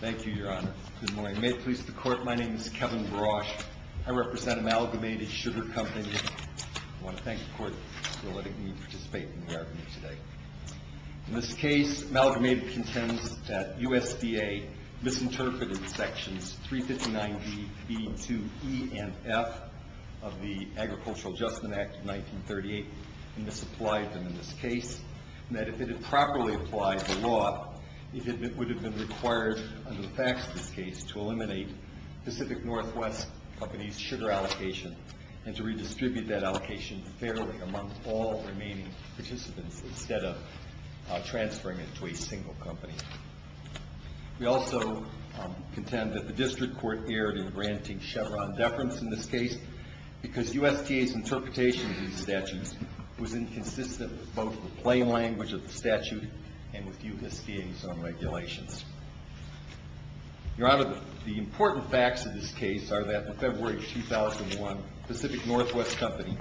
Thank you, Your Honor. Good morning. May it please the Court, my name is Kevin Barasch. I represent Amalgamated Sugar Company. I want to thank the Court for letting me participate in the argument today. In this case, Amalgamated contends that USDA misinterpreted sections 359B, B2E, and F of the Agricultural Adjustment Act of 1938 and misapplied them in this case, and that if it had properly applied the law, it would have been required under the facts of this case to eliminate Pacific Northwest Company's sugar allocation and to redistribute that allocation fairly among all remaining participants instead of transferring it to a single company. We also contend that the District Court erred in granting Chevron deference in this case because USDA's interpretation of these statutes was inconsistent with both the plain language of the statute and with USDA's own regulations. Your Honor, the important facts of this case are that in February 2001, Pacific Northwest Company,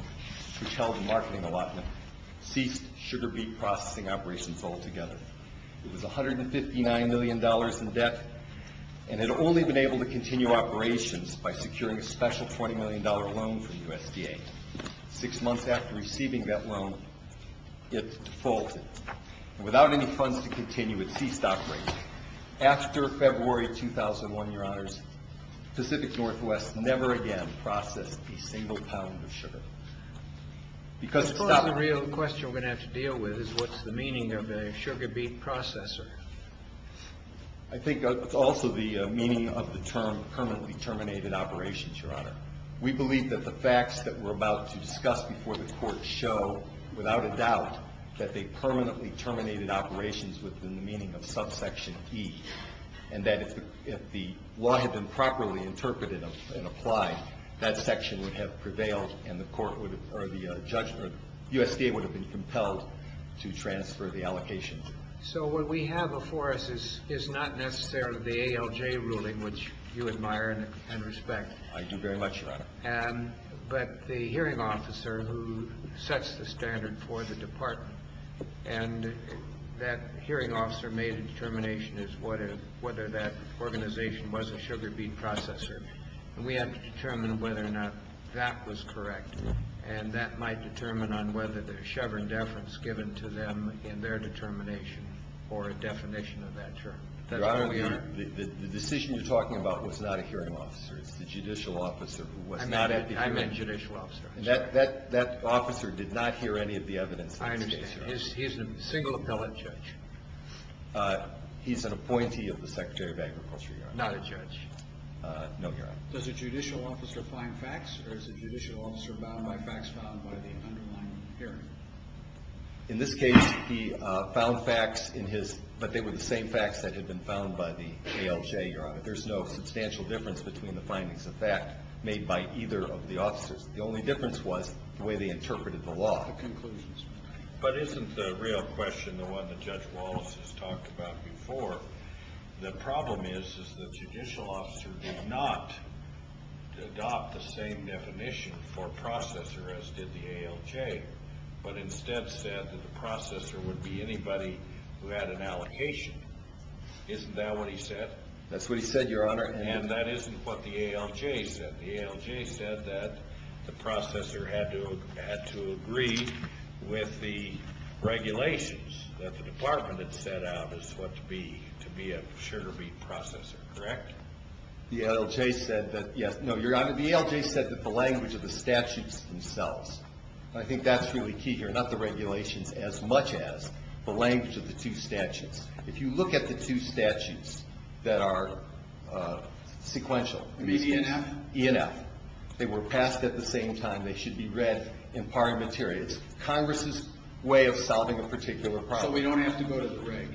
which held the marketing allotment, ceased sugar beet processing operations altogether. It was $159 million in debt and had only been able to continue operations by securing a special $20 million loan from USDA. Six months after receiving that loan, it defaulted. Without any funds to continue, it ceased operations. After February 2001, Your Honors, Pacific Northwest never again processed a single pound of sugar. Of course, the real question we're going to have to deal with is what's the meaning of a sugar beet processor? I think it's also the meaning of the term permanently terminated operations, Your Honor. We believe that the facts that we're about to discuss before the Court show without a doubt that they permanently terminated operations within the meaning of subsection E, and that if the law had been properly interpreted and applied, that section would have prevailed and the court or the judgment, USDA would have been compelled to transfer the allocation. So what we have before us is not necessarily the ALJ ruling, which you admire and respect. But the hearing officer who sets the standard for the department, and that hearing officer made a determination as to whether that organization was a sugar beet processor. We have to determine whether or not that was correct, and that might determine on whether the Chevron deference given to them in their determination or a definition of that term. Your Honor, the decision you're talking about was not a hearing officer. It's the judicial officer who was not at the hearing. I meant judicial officer. That officer did not hear any of the evidence. I understand. He's a single appellate judge. He's an appointee of the Secretary of Agriculture, Your Honor. Not a judge. No, Your Honor. Does a judicial officer find facts, or is a judicial officer bound by facts found by the underlying hearing? In this case, he found facts in his, but they were the same facts that had been found by the ALJ, Your Honor. There's no substantial difference between the findings of fact made by either of the officers. The only difference was the way they interpreted the law. The conclusions. But isn't the real question the one that Judge Wallace has talked about before? The problem is that the judicial officer did not adopt the same definition for processor as did the ALJ, but instead said that the processor would be anybody who had an allocation. Isn't that what he said? That's what he said, Your Honor. And that isn't what the ALJ said. The ALJ said that the processor had to agree with the regulations that the department had set out as what to be a sugar beet processor, correct? The ALJ said that, yes. No, Your Honor. The ALJ said that the language of the statutes themselves. I think that's really key here. Not the regulations as much as the language of the two statutes. If you look at the two statutes that are sequential. The ENF? ENF. They were passed at the same time. They should be read in parliamentary. It's Congress's way of solving a particular problem. So we don't have to go to the reg?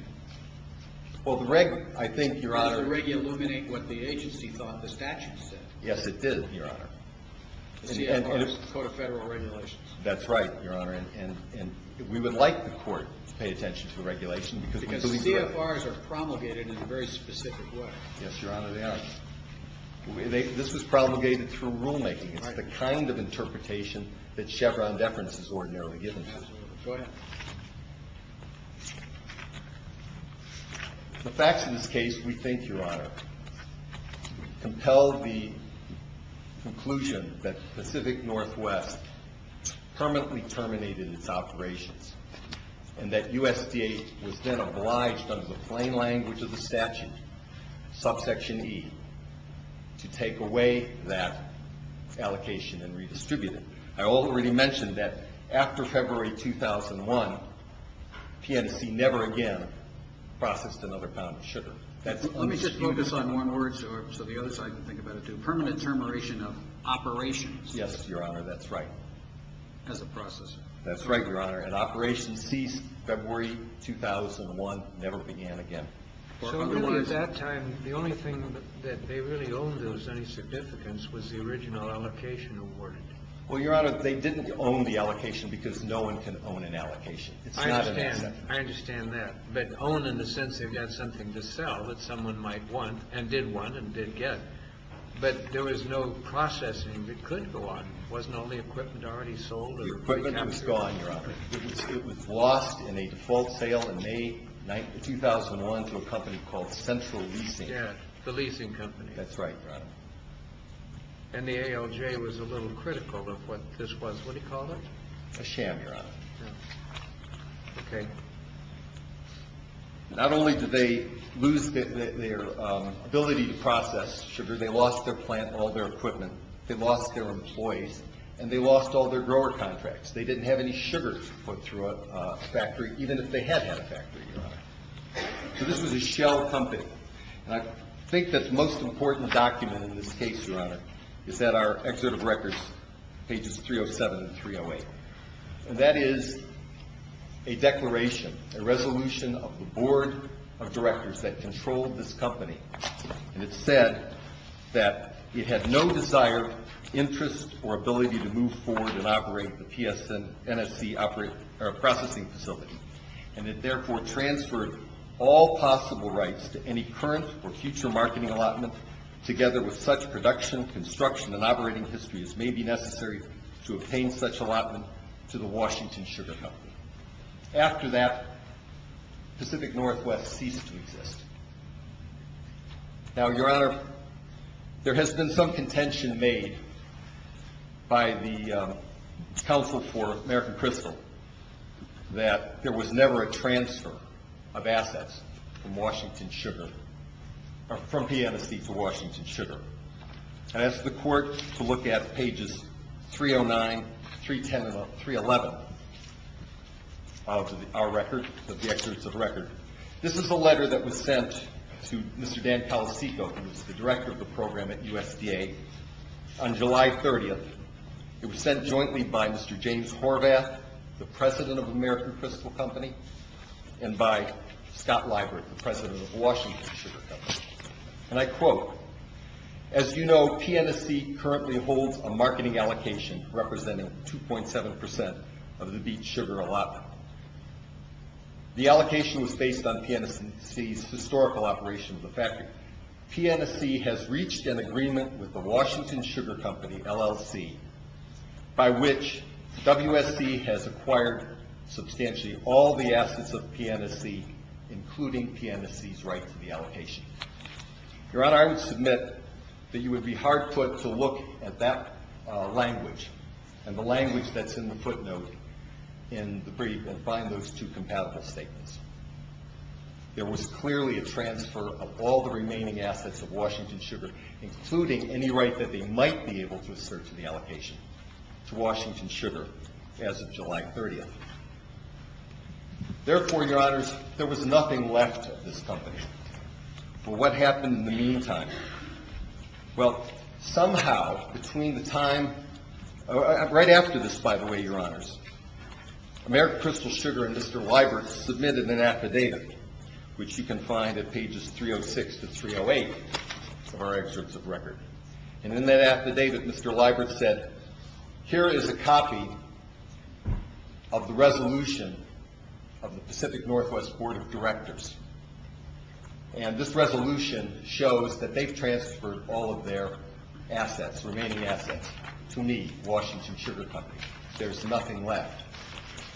Well, the reg, I think, Your Honor. Did the reg illuminate what the agency thought the statute said? Yes, it did, Your Honor. The CFRs, the Code of Federal Regulations. That's right, Your Honor. And we would like the court to pay attention to the regulation because we believe that. Because CFRs are promulgated in a very specific way. Yes, Your Honor, they are. This was promulgated through rulemaking. It's the kind of interpretation that Chevron deference is ordinarily given to. Go ahead. The facts of this case, we think, Your Honor, compel the conclusion that Pacific Northwest permanently terminated its operations and that USDA was then obliged under the plain language of the statute, subsection E, to take away that allocation and redistribute it. I already mentioned that after February 2001, PNC never again processed another pound of sugar. Let me just focus on one word so the other side can think about it too. Permanent termination of operations. Yes, Your Honor, that's right. As a process. That's right, Your Honor. And operations ceased February 2001, never began again. So really at that time, the only thing that they really owned that was any significance was the original allocation awarded. Well, Your Honor, they didn't own the allocation because no one can own an allocation. It's not an exception. I understand that. But own in the sense they've got something to sell that someone might want and did want and did get. But there was no processing that could go on. It wasn't only equipment already sold. The equipment was gone, Your Honor. It was lost in a default sale in May 2001 to a company called Central Leasing. Yes, the leasing company. That's right, Your Honor. And the ALJ was a little critical of what this was. What do you call it? A sham, Your Honor. Yes. Okay. Not only did they lose their ability to process sugar, they lost their plant, all their equipment, they lost their employees, and they lost all their grower contracts. They didn't have any sugar put through a factory, even if they had had a factory, Your Honor. So this was a shell company. And I think the most important document in this case, Your Honor, is at our excerpt of records, pages 307 and 308. And that is a declaration, a resolution of the board of directors that controlled this company. And it said that it had no desired interest or ability to move forward and operate the PSNSC processing facility, and it therefore transferred all possible rights to any current or future marketing allotment together with such production, construction, and operating history as may be necessary to obtain such allotment to the Washington Sugar Company. After that, Pacific Northwest ceased to exist. Now, Your Honor, there has been some contention made by the Council for American Crystal that there was never a transfer of assets from Washington Sugar, from PNSC to Washington Sugar. I asked the court to look at pages 309, 310, and 311 of our record, of the excerpts of record. This is a letter that was sent to Mr. Dan Palacicco, who is the director of the program at USDA, on July 30th. It was sent jointly by Mr. James Horvath, the president of American Crystal Company, and by Scott Liebert, the president of Washington Sugar Company. And I quote, As you know, PNSC currently holds a marketing allocation representing 2.7% of the Beats Sugar allotment. The allocation was based on PNSC's historical operation of the factory. PNSC has reached an agreement with the Washington Sugar Company, LLC, by which WSC has acquired substantially all the assets of PNSC, including PNSC's right to the allocation. Your Honor, I would submit that you would be hard put to look at that language and the language that's in the footnote and find those two compatible statements. There was clearly a transfer of all the remaining assets of Washington Sugar, including any right that they might be able to assert to the allocation to Washington Sugar as of July 30th. Therefore, Your Honors, there was nothing left of this company. For what happened in the meantime? Well, somehow, between the time... Right after this, by the way, Your Honors, AmeriCrystal Sugar and Mr. Leibert submitted an affidavit, which you can find at pages 306 to 308 of our excerpts of record. And in that affidavit, Mr. Leibert said, Here is a copy of the resolution of the Pacific Northwest Board of Directors. And this resolution shows that they've transferred all of their assets, remaining assets, to me, Washington Sugar Company. There's nothing left.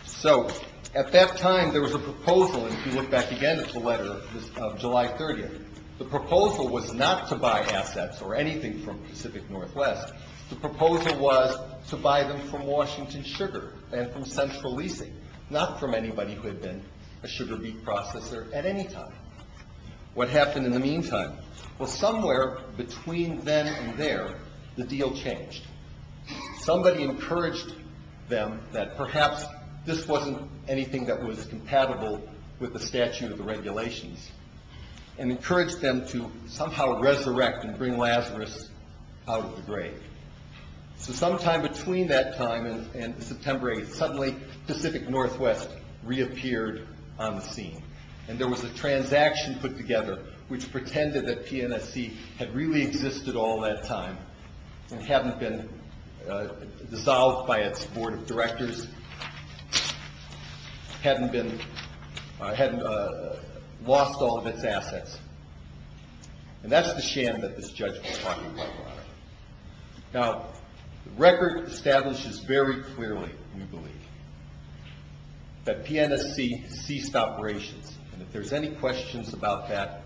So, at that time, there was a proposal, and if you look back again at the letter of July 30th, the proposal was not to buy assets or anything from Pacific Northwest. The proposal was to buy them from Washington Sugar and from Central Leasing, not from anybody who had been a sugar beet processor at any time. What happened in the meantime? Well, somewhere between then and there, the deal changed. Somebody encouraged them that perhaps this wasn't anything that was compatible with the statute of the regulations and encouraged them to somehow resurrect and bring Lazarus out of the grave. So sometime between that time and September 8th, suddenly Pacific Northwest reappeared on the scene, and there was a transaction put together which pretended that PNSC had really existed all that time and hadn't been dissolved by its board of directors, hadn't lost all of its assets. And that's the sham that this judge was talking about. Now, the record establishes very clearly, we believe, that PNSC ceased operations. And if there's any questions about that,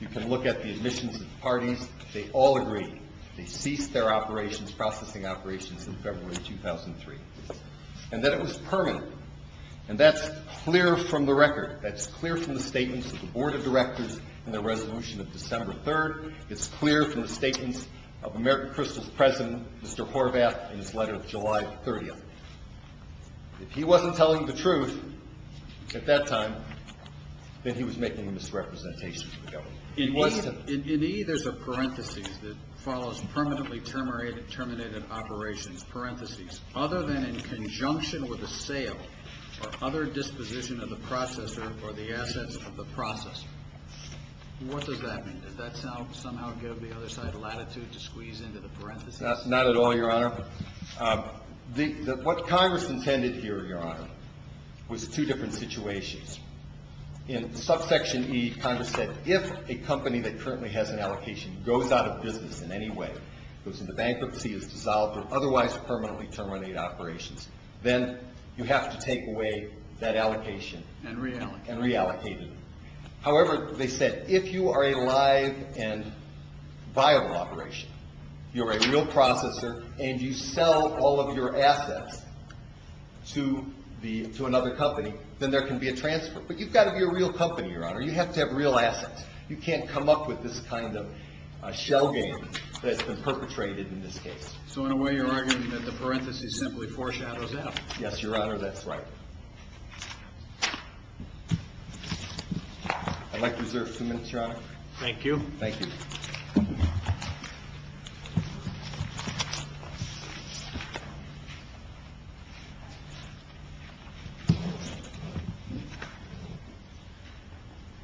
you can look at the admissions of the parties. They all agreed. They ceased their operations, processing operations, in February 2003. And that it was permanent. And that's clear from the record. That's clear from the statements of the board of directors in the resolution of December 3rd. It's clear from the statements of American Crystal's president, Mr. Horvath, in his letter of July 30th. If he wasn't telling the truth at that time, then he was making a misrepresentation to the government. In E, there's a parentheses that follows permanently terminated operations. Parentheses. Other than in conjunction with a sale or other disposition of the processor or the assets of the processor. What does that mean? Does that somehow give the other side latitude to squeeze into the parentheses? Not at all, Your Honor. What Congress intended here, Your Honor, was two different situations. In subsection E, Congress said if a company that currently has an allocation goes out of business in any way, goes into bankruptcy, is dissolved or otherwise permanently terminated operations, then you have to take away that allocation. And reallocate it. And reallocate it. However, they said if you are a live and viable operation, you're a real processor and you sell all of your assets to another company, then there can be a transfer. But you've got to be a real company, Your Honor. You have to have real assets. You can't come up with this kind of shell game that's been perpetrated in this case. So in a way, you're arguing that the parentheses simply foreshadows F. Yes, Your Honor. That's right. I'd like to reserve a few minutes, Your Honor. Thank you. Thank you.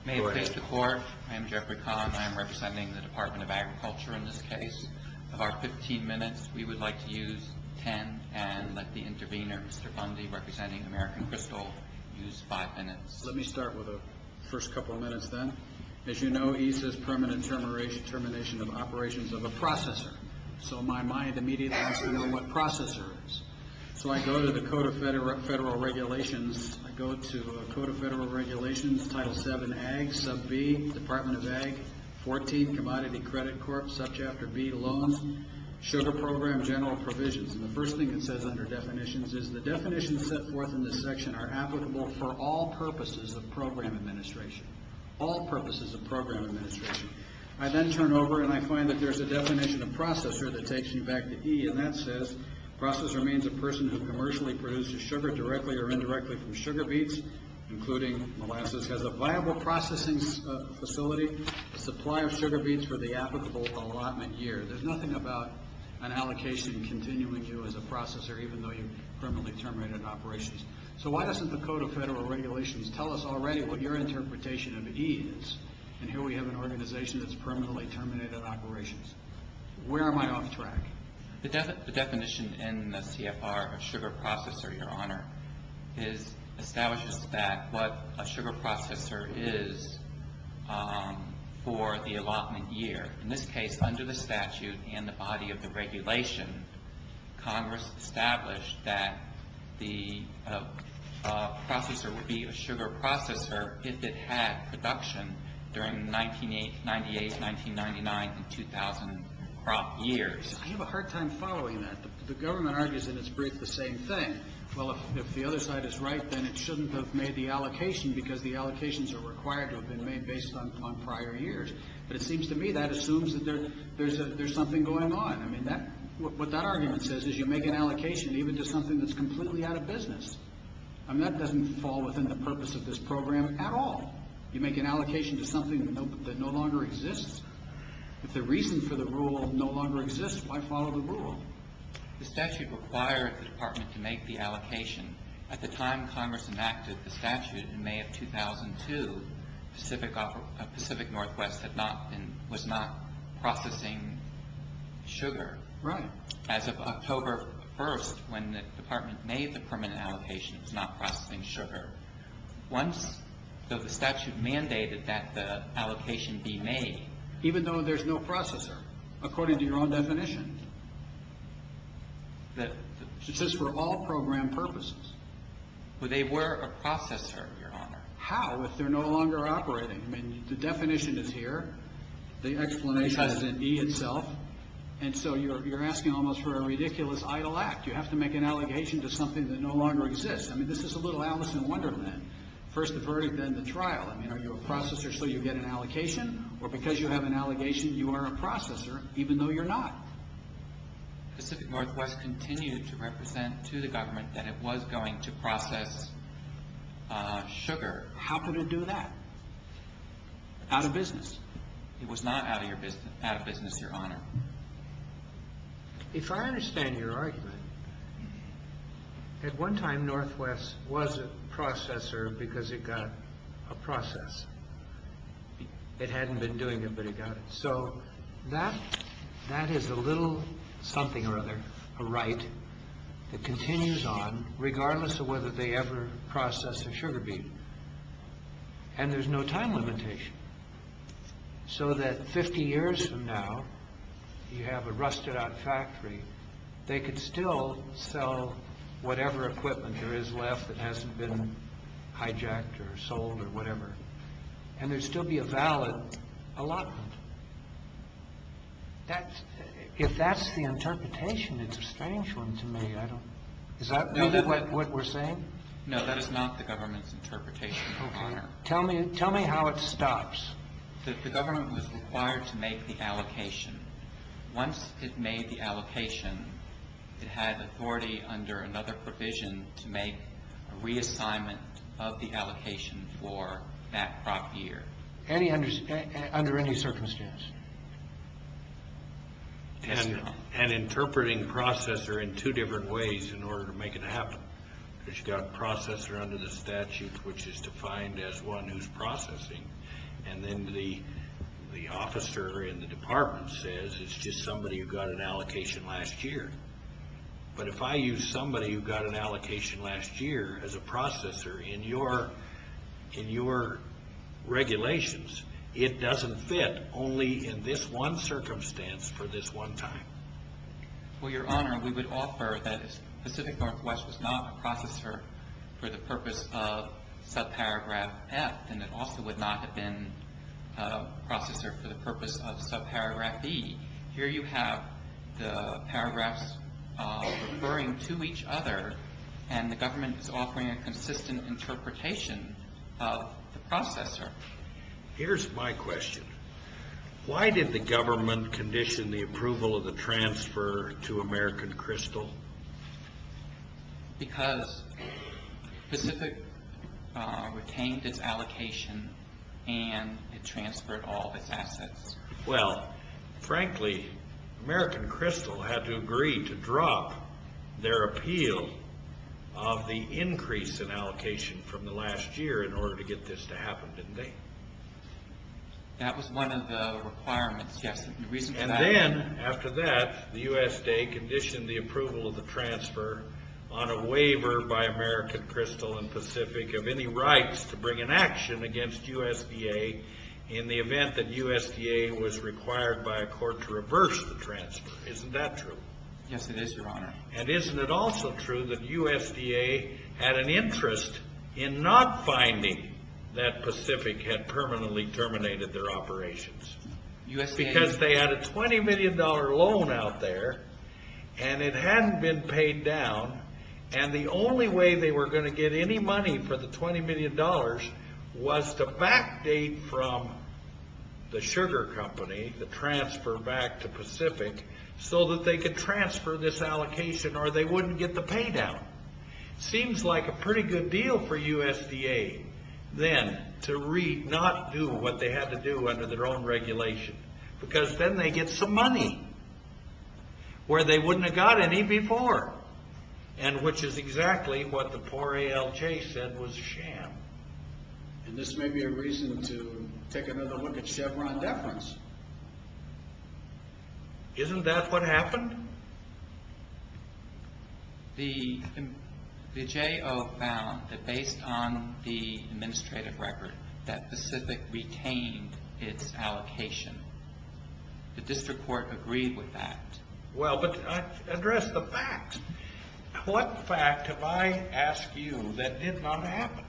May it please the Court. I am Jeffrey Kahn. I am representing the Department of Agriculture in this case. Of our 15 minutes, we would like to use 10 and let the intervener, Mr. Bundy, representing American Crystal, use 5 minutes. Let me start with the first couple of minutes then. As you know, ESA's permanent termination of operations of a processor. So my mind immediately wants to know what processor is. So I go to the Code of Federal Regulations. I go to Code of Federal Regulations, Title VII, Ag, Sub B, Department of Ag, 14, Commodity Credit Corp., Sub Chapter B, Loans, Sugar Program, General Provisions. And the first thing it says under definitions is, the definitions set forth in this section are applicable for all purposes of program administration. All purposes of program administration. I then turn over and I find that there's a definition of processor that takes me back to E, and that says, processor means a person who commercially produces sugar directly or indirectly from sugar beets, including molasses, has a viable processing facility, supply of sugar beets for the applicable allotment year. There's nothing about an allocation continuing you as a processor, even though you've permanently terminated operations. So why doesn't the Code of Federal Regulations tell us already what your interpretation of E is? And here we have an organization that's permanently terminated operations. Where am I off track? The definition in the CFR of sugar processor, Your Honor, establishes that what a sugar processor is for the allotment year. In this case, under the statute and the body of the regulation, Congress established that the processor would be a sugar processor if it had production during 1998, 1999, and 2000 years. I have a hard time following that. The government argues that it's the same thing. Well, if the other side is right, then it shouldn't have made the allocation because the allocations are required to have been made based on prior years. But it seems to me that assumes that there's something going on. I mean, what that argument says is you make an allocation even to something that's completely out of business. I mean, that doesn't fall within the purpose of this program at all. You make an allocation to something that no longer exists. If the reason for the rule no longer exists, why follow the rule? The statute required the Department to make the allocation. At the time Congress enacted the statute in May of 2002, Pacific Northwest was not processing sugar. Right. As of October 1st, when the Department made the permit allocation, it was not processing sugar. Once the statute mandated that the allocation be made. Even though there's no processor, according to your own definition. It says for all program purposes. Well, they were a processor, Your Honor. How, if they're no longer operating? I mean, the definition is here. The explanation is in E itself. And so you're asking almost for a ridiculous idle act. You have to make an allegation to something that no longer exists. I mean, this is a little Alice in Wonderland. First the verdict, then the trial. I mean, are you a processor so you get an allocation? Or because you have an allegation, you are a processor even though you're not. Pacific Northwest continued to represent to the government that it was going to process sugar. How could it do that? Out of business. It was not out of business, Your Honor. If I understand your argument, at one time Northwest was a processor because it got a process. It hadn't been doing it, but it got it. So that is a little something or other, a right that continues on regardless of whether they ever process a sugar bean. And there's no time limitation. So that 50 years from now, you have a rusted out factory. They could still sell whatever equipment there is left that hasn't been hijacked or sold or whatever. And there'd still be a valid allotment. If that's the interpretation, it's a strange one to me. Is that really what we're saying? No, that is not the government's interpretation, Your Honor. Tell me how it stops. The government was required to make the allocation. Once it made the allocation, it had authority under another provision to make a reassignment of the allocation for that crop year. Under any circumstance? Yes, Your Honor. An interpreting processor in two different ways in order to make it happen. Because you've got a processor under the statute, which is defined as one who's processing. And then the officer in the department says it's just somebody who got an allocation last year. But if I use somebody who got an allocation last year as a processor in your regulations, it doesn't fit only in this one circumstance for this one time. Well, Your Honor, we would offer that Pacific Northwest was not a processor for the purpose of subparagraph F, and it also would not have been a processor for the purpose of subparagraph B. Here you have the paragraphs referring to each other, and the government is offering a consistent interpretation of the processor. Here's my question. Why did the government condition the approval of the transfer to American Crystal? Because Pacific retained its allocation, and it transferred all of its assets. Well, frankly, American Crystal had to agree to drop their appeal of the increase in allocation from the last year in order to get this to happen, didn't they? That was one of the requirements, yes. And then after that, the USDA conditioned the approval of the transfer on a waiver by American Crystal and Pacific of any rights to bring an action against USDA in the event that USDA was required by a court to reverse the transfer. Isn't that true? Yes, it is, Your Honor. And isn't it also true that USDA had an interest in not finding that Pacific had permanently terminated their operations? Because they had a $20 million loan out there, and it hadn't been paid down, and the only way they were going to get any money for the $20 million was to backdate from the sugar company the transfer back to Pacific so that they could transfer this allocation or they wouldn't get the pay down. Seems like a pretty good deal for USDA then to not do what they had to do under their own regulation because then they get some money where they wouldn't have got any before, and which is exactly what the poor ALJ said was a sham. And this may be a reason to take another look at Chevron deference. Isn't that what happened? The J.O. found that based on the administrative record that Pacific retained its allocation. The district court agreed with that. Well, but address the facts. What fact have I asked you that did not happen?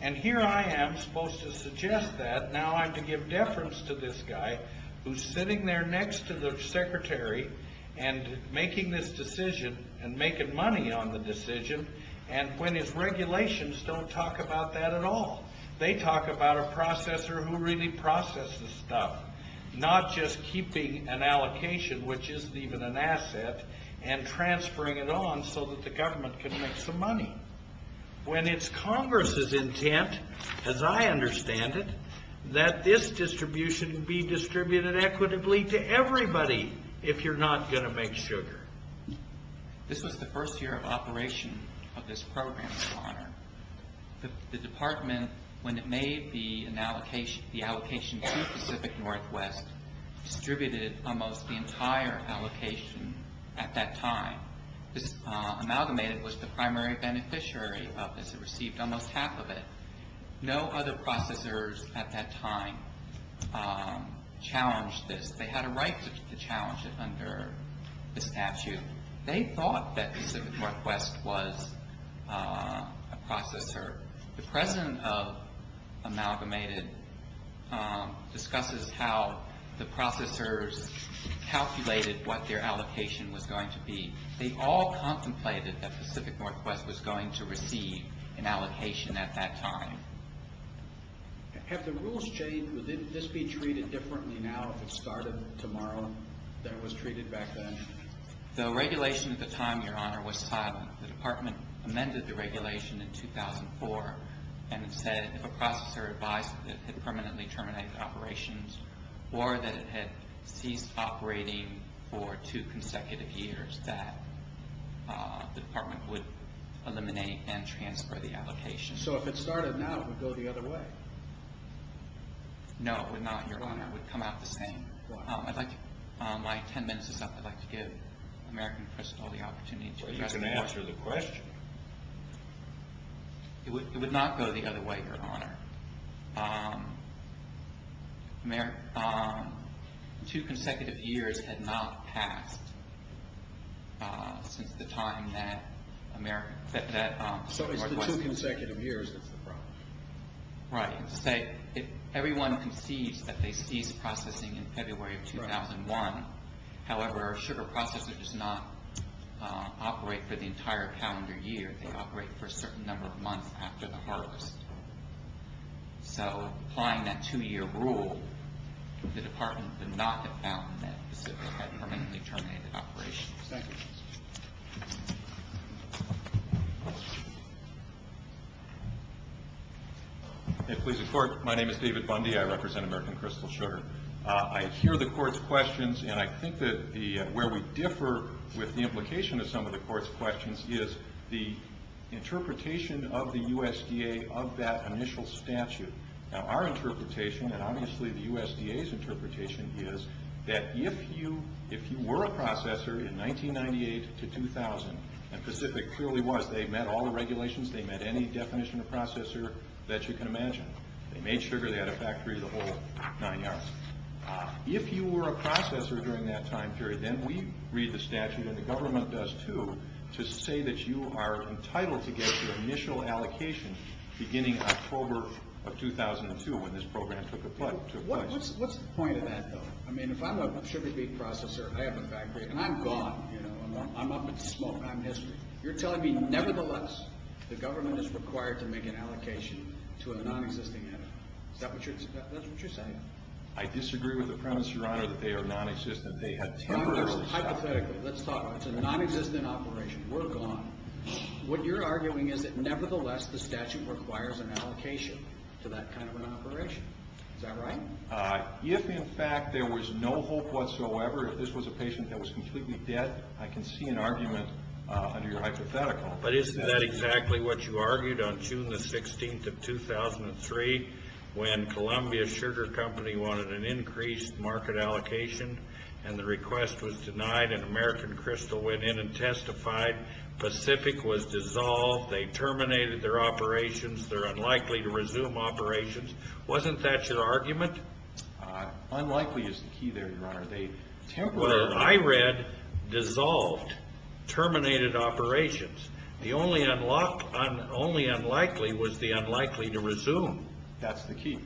And here I am supposed to suggest that. Now I have to give deference to this guy who's sitting there next to the secretary and making this decision and making money on the decision when his regulations don't talk about that at all. They talk about a processor who really processes stuff, not just keeping an allocation, which isn't even an asset, and transferring it on so that the government can make some money. When it's Congress's intent, as I understand it, that this distribution be distributed equitably to everybody if you're not going to make sugar. This was the first year of operation of this program, The department, when it made the allocation to Pacific Northwest, distributed almost the entire allocation at that time. This amalgamated was the primary beneficiary of this. It received almost half of it. No other processors at that time challenged this. They had a right to challenge it under the statute. They thought that Pacific Northwest was a processor. The president of Amalgamated discusses how the processors calculated what their allocation was going to be. They all contemplated that Pacific Northwest was going to receive an allocation at that time. Have the rules changed? Would this be treated differently now if it started tomorrow than it was treated back then? The regulation at the time, Your Honor, was silent. The department amended the regulation in 2004 and said if a processor advised that it had permanently terminated operations or that it had ceased operating for two consecutive years, that the department would eliminate and transfer the allocation. So if it started now, it would go the other way? No, it would not, Your Honor. It would come out the same. My ten minutes is up. I'd like to give American Crystal the opportunity to address the point. You can answer the question. It would not go the other way, Your Honor. Two consecutive years had not passed since the time that American Crystal was requested. So it's the two consecutive years that's the problem. Right. Everyone concedes that they ceased processing in February of 2001. However, a sugar processor does not operate for the entire calendar year. They operate for a certain number of months after the harvest. So applying that two-year rule, the department would not have found that Pacific had permanently terminated operations. Thank you. If it pleases the Court, my name is David Bundy. I represent American Crystal Sugar. I hear the Court's questions, and I think that where we differ with the implication of some of the Court's questions is the interpretation of the USDA of that initial statute. Now, our interpretation, and obviously the USDA's interpretation, is that if you were a processor in 1998 to 2000, and Pacific clearly was. They met all the regulations. They met any definition of processor that you can imagine. They made sugar. They had a factory, the whole nine yards. If you were a processor during that time period, then we read the statute, and the government does too, to say that you are entitled to get your initial allocation beginning October of 2002 when this program took place. What's the point of that, though? I mean, if I'm a sugar beet processor, I have a factory, and I'm gone. I'm up in smoke. I'm history. You're telling me, nevertheless, the government is required to make an allocation to a nonexisting entity. Is that what you're saying? I disagree with the premise, Your Honor, that they are nonexistent. Hypothetically, let's talk about it. It's a nonexistent operation. We're gone. What you're arguing is that, nevertheless, the statute requires an allocation to that kind of an operation. Is that right? If, in fact, there was no hope whatsoever, if this was a patient that was completely dead, I can see an argument under your hypothetical. But isn't that exactly what you argued on June the 16th of 2003 when Columbia Sugar Company wanted an increased market allocation, and the request was denied, and American Crystal went in and testified. Pacific was dissolved. They terminated their operations. They're unlikely to resume operations. Wasn't that your argument? Unlikely is the key there, Your Honor. What I read, dissolved, terminated operations. The only unlikely was the unlikely to resume. That's the key.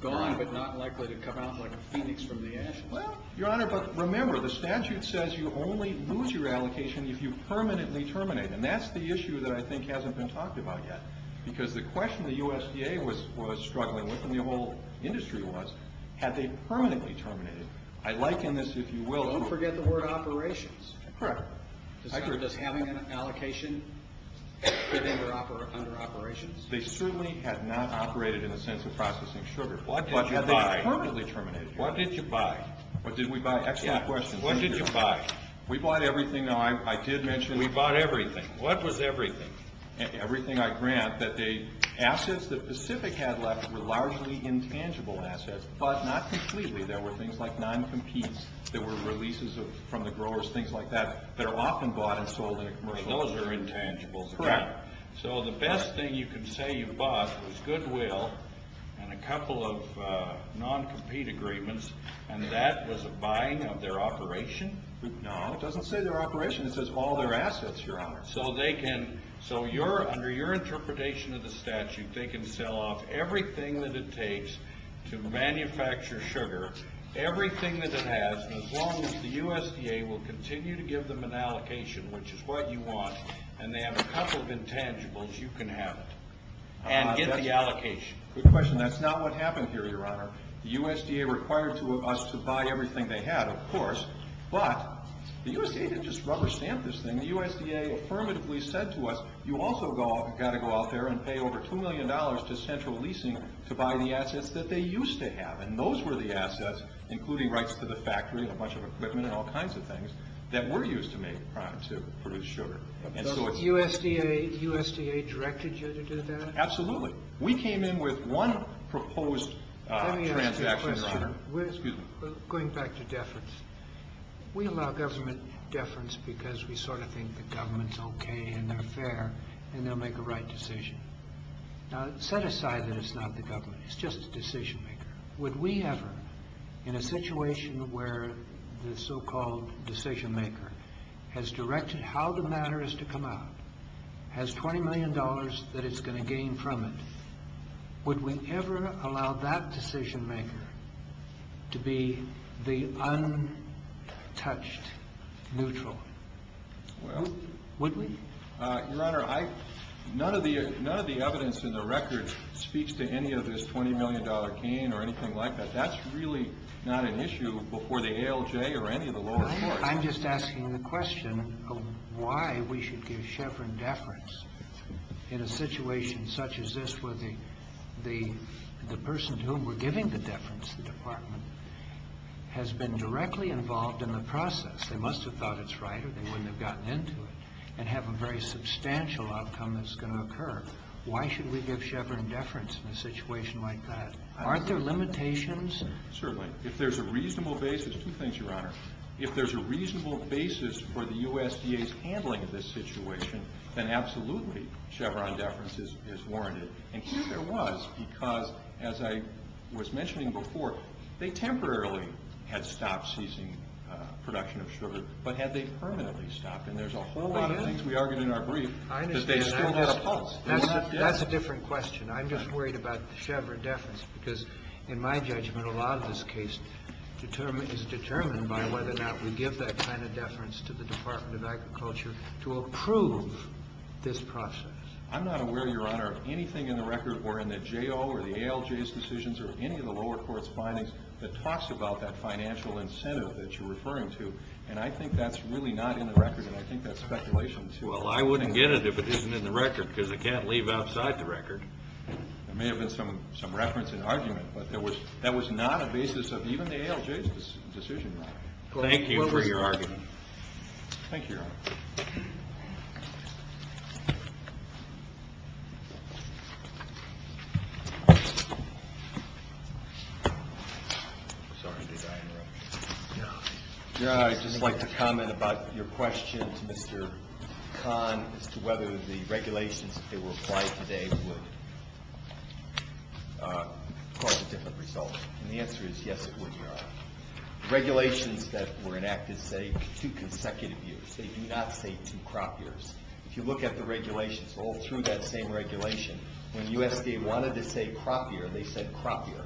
Gone but not likely to come out like a phoenix from the ashes. Well, Your Honor, but remember, the statute says you only lose your allocation if you permanently terminate, and that's the issue that I think hasn't been talked about yet because the question the USDA was struggling with, and the whole industry was, had they permanently terminated? I liken this, if you will. Don't forget the word operations. Correct. Does having an allocation put them under operations? They certainly had not operated in the sense of processing sugar. What did you buy? Had they permanently terminated? What did you buy? What did we buy? Excellent question. What did you buy? We bought everything. Now, I did mention. We bought everything. What was everything? Everything I grant, that the assets that Pacific had left were largely intangible assets, but not completely. There were things like non-competes. There were releases from the growers, things like that, that are often bought and sold in a commercial. Those are intangibles. Correct. So the best thing you can say you bought was Goodwill and a couple of non-compete agreements, and that was a buying of their operation? No. It doesn't say their operation. It says all their assets, Your Honor. So they can. So under your interpretation of the statute, they can sell off everything that it takes to manufacture sugar, everything that it has, and as long as the USDA will continue to give them an allocation, which is what you want, and they have a couple of intangibles, you can have it and get the allocation. Good question. That's not what happened here, Your Honor. The USDA required us to buy everything they had, of course, but the USDA didn't just rubber stamp this thing. The USDA affirmatively said to us, you also got to go out there and pay over $2 million to Central Leasing to buy the assets that they used to have, and those were the assets, including rights to the factory and a bunch of equipment and all kinds of things, that were used to produce sugar. But USDA directed you to do that? We came in with one proposed transaction, Your Honor. Let me ask you a question. Excuse me. Going back to deference. We allow government deference because we sort of think the government's okay and they're fair and they'll make the right decision. Now, set aside that it's not the government. It's just the decision maker. Would we ever, in a situation where the so-called decision maker has directed how the matter is to come out, has $20 million that it's going to gain from it, would we ever allow that decision maker to be the untouched neutral? Would we? Your Honor, none of the evidence in the record speaks to any of this $20 million gain or anything like that. That's really not an issue before the ALJ or any of the lower courts. I'm just asking the question of why we should give Chevron deference in a situation such as this where the person to whom we're giving the deference, the department, has been directly involved in the process. They must have thought it's right or they wouldn't have gotten into it and have a very substantial outcome that's going to occur. Why should we give Chevron deference in a situation like that? Aren't there limitations? Certainly. If there's a reasonable basis, two things, Your Honor. If there's a reasonable basis for the USDA's handling of this situation, then absolutely Chevron deference is warranted. And here it was because, as I was mentioning before, they temporarily had stopped ceasing production of sugar, but had they permanently stopped? And there's a whole lot of things we argued in our brief that they still had a pulse. That's a different question. I'm just worried about the Chevron deference because, in my judgment, a lot of this case is determined by whether or not we give that kind of deference to the Department of Agriculture to approve this process. I'm not aware, Your Honor, of anything in the record or in the J.O. or the ALJ's decisions or any of the lower court's findings that talks about that financial incentive that you're referring to. And I think that's really not in the record, and I think that's speculation too. Well, I wouldn't get it if it isn't in the record because I can't leave outside the record. There may have been some reference and argument, but that was not a basis of even the ALJ's decision. Thank you for your argument. Thank you, Your Honor. Sorry, did I interrupt you? No. Your Honor, I'd just like to comment about your question to Mr. Kahn as to whether the regulations that were applied today would cause a different result. And the answer is yes, it would, Your Honor. Regulations that were enacted say two consecutive years. They do not say two crop years. If you look at the regulations all through that same regulation, when USDA wanted to say crop year, they said crop year.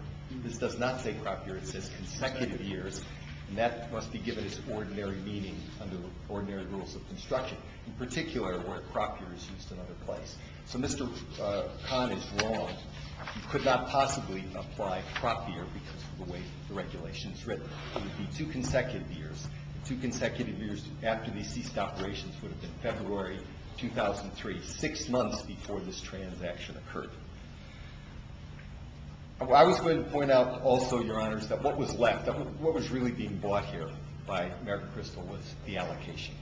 This does not say crop year. It says consecutive years, and that must be given its ordinary meaning under ordinary rules of construction, in particular where crop year is used in other place. So Mr. Kahn is wrong. You could not possibly apply crop year because of the way the regulation is written. It would be two consecutive years. Two consecutive years after these ceased operations would have been February 2003, six months before this transaction occurred. I was going to point out also, Your Honors, that what was left, what was really being bought here by American Crystal was the allocation.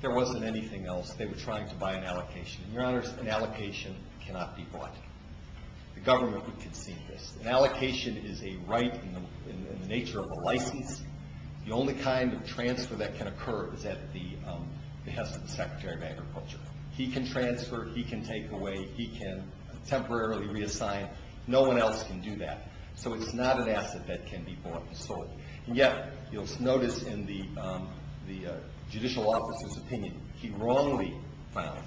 There wasn't anything else. They were trying to buy an allocation. And, Your Honors, an allocation cannot be bought. The government would concede this. An allocation is a right in the nature of a license. The only kind of transfer that can occur is at the behest of the Secretary of Agriculture. He can transfer. He can take away. He can temporarily reassign. No one else can do that. So it's not an asset that can be bought and sold. And yet, you'll notice in the judicial officer's opinion, he wrongly found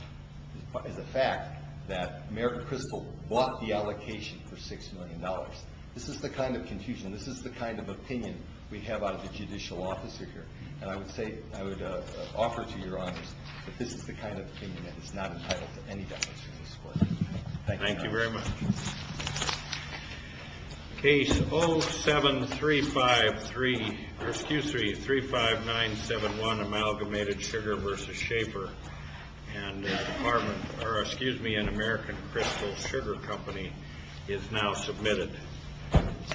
as a fact that American Crystal bought the allocation for $6 million. This is the kind of confusion. This is the kind of opinion we have out of the judicial officer here. And I would say, I would offer to Your Honors that this is the kind of opinion that is not entitled to any definition in this court. Thank you. Thank you very much. Case 07353, or excuse me, 35971, Amalgamated Sugar v. Schaefer, and the department, or excuse me, and American Crystal Sugar Company is now submitted.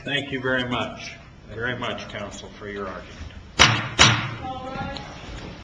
Thank you very much. Thank you very much, counsel, for your argument. All rise.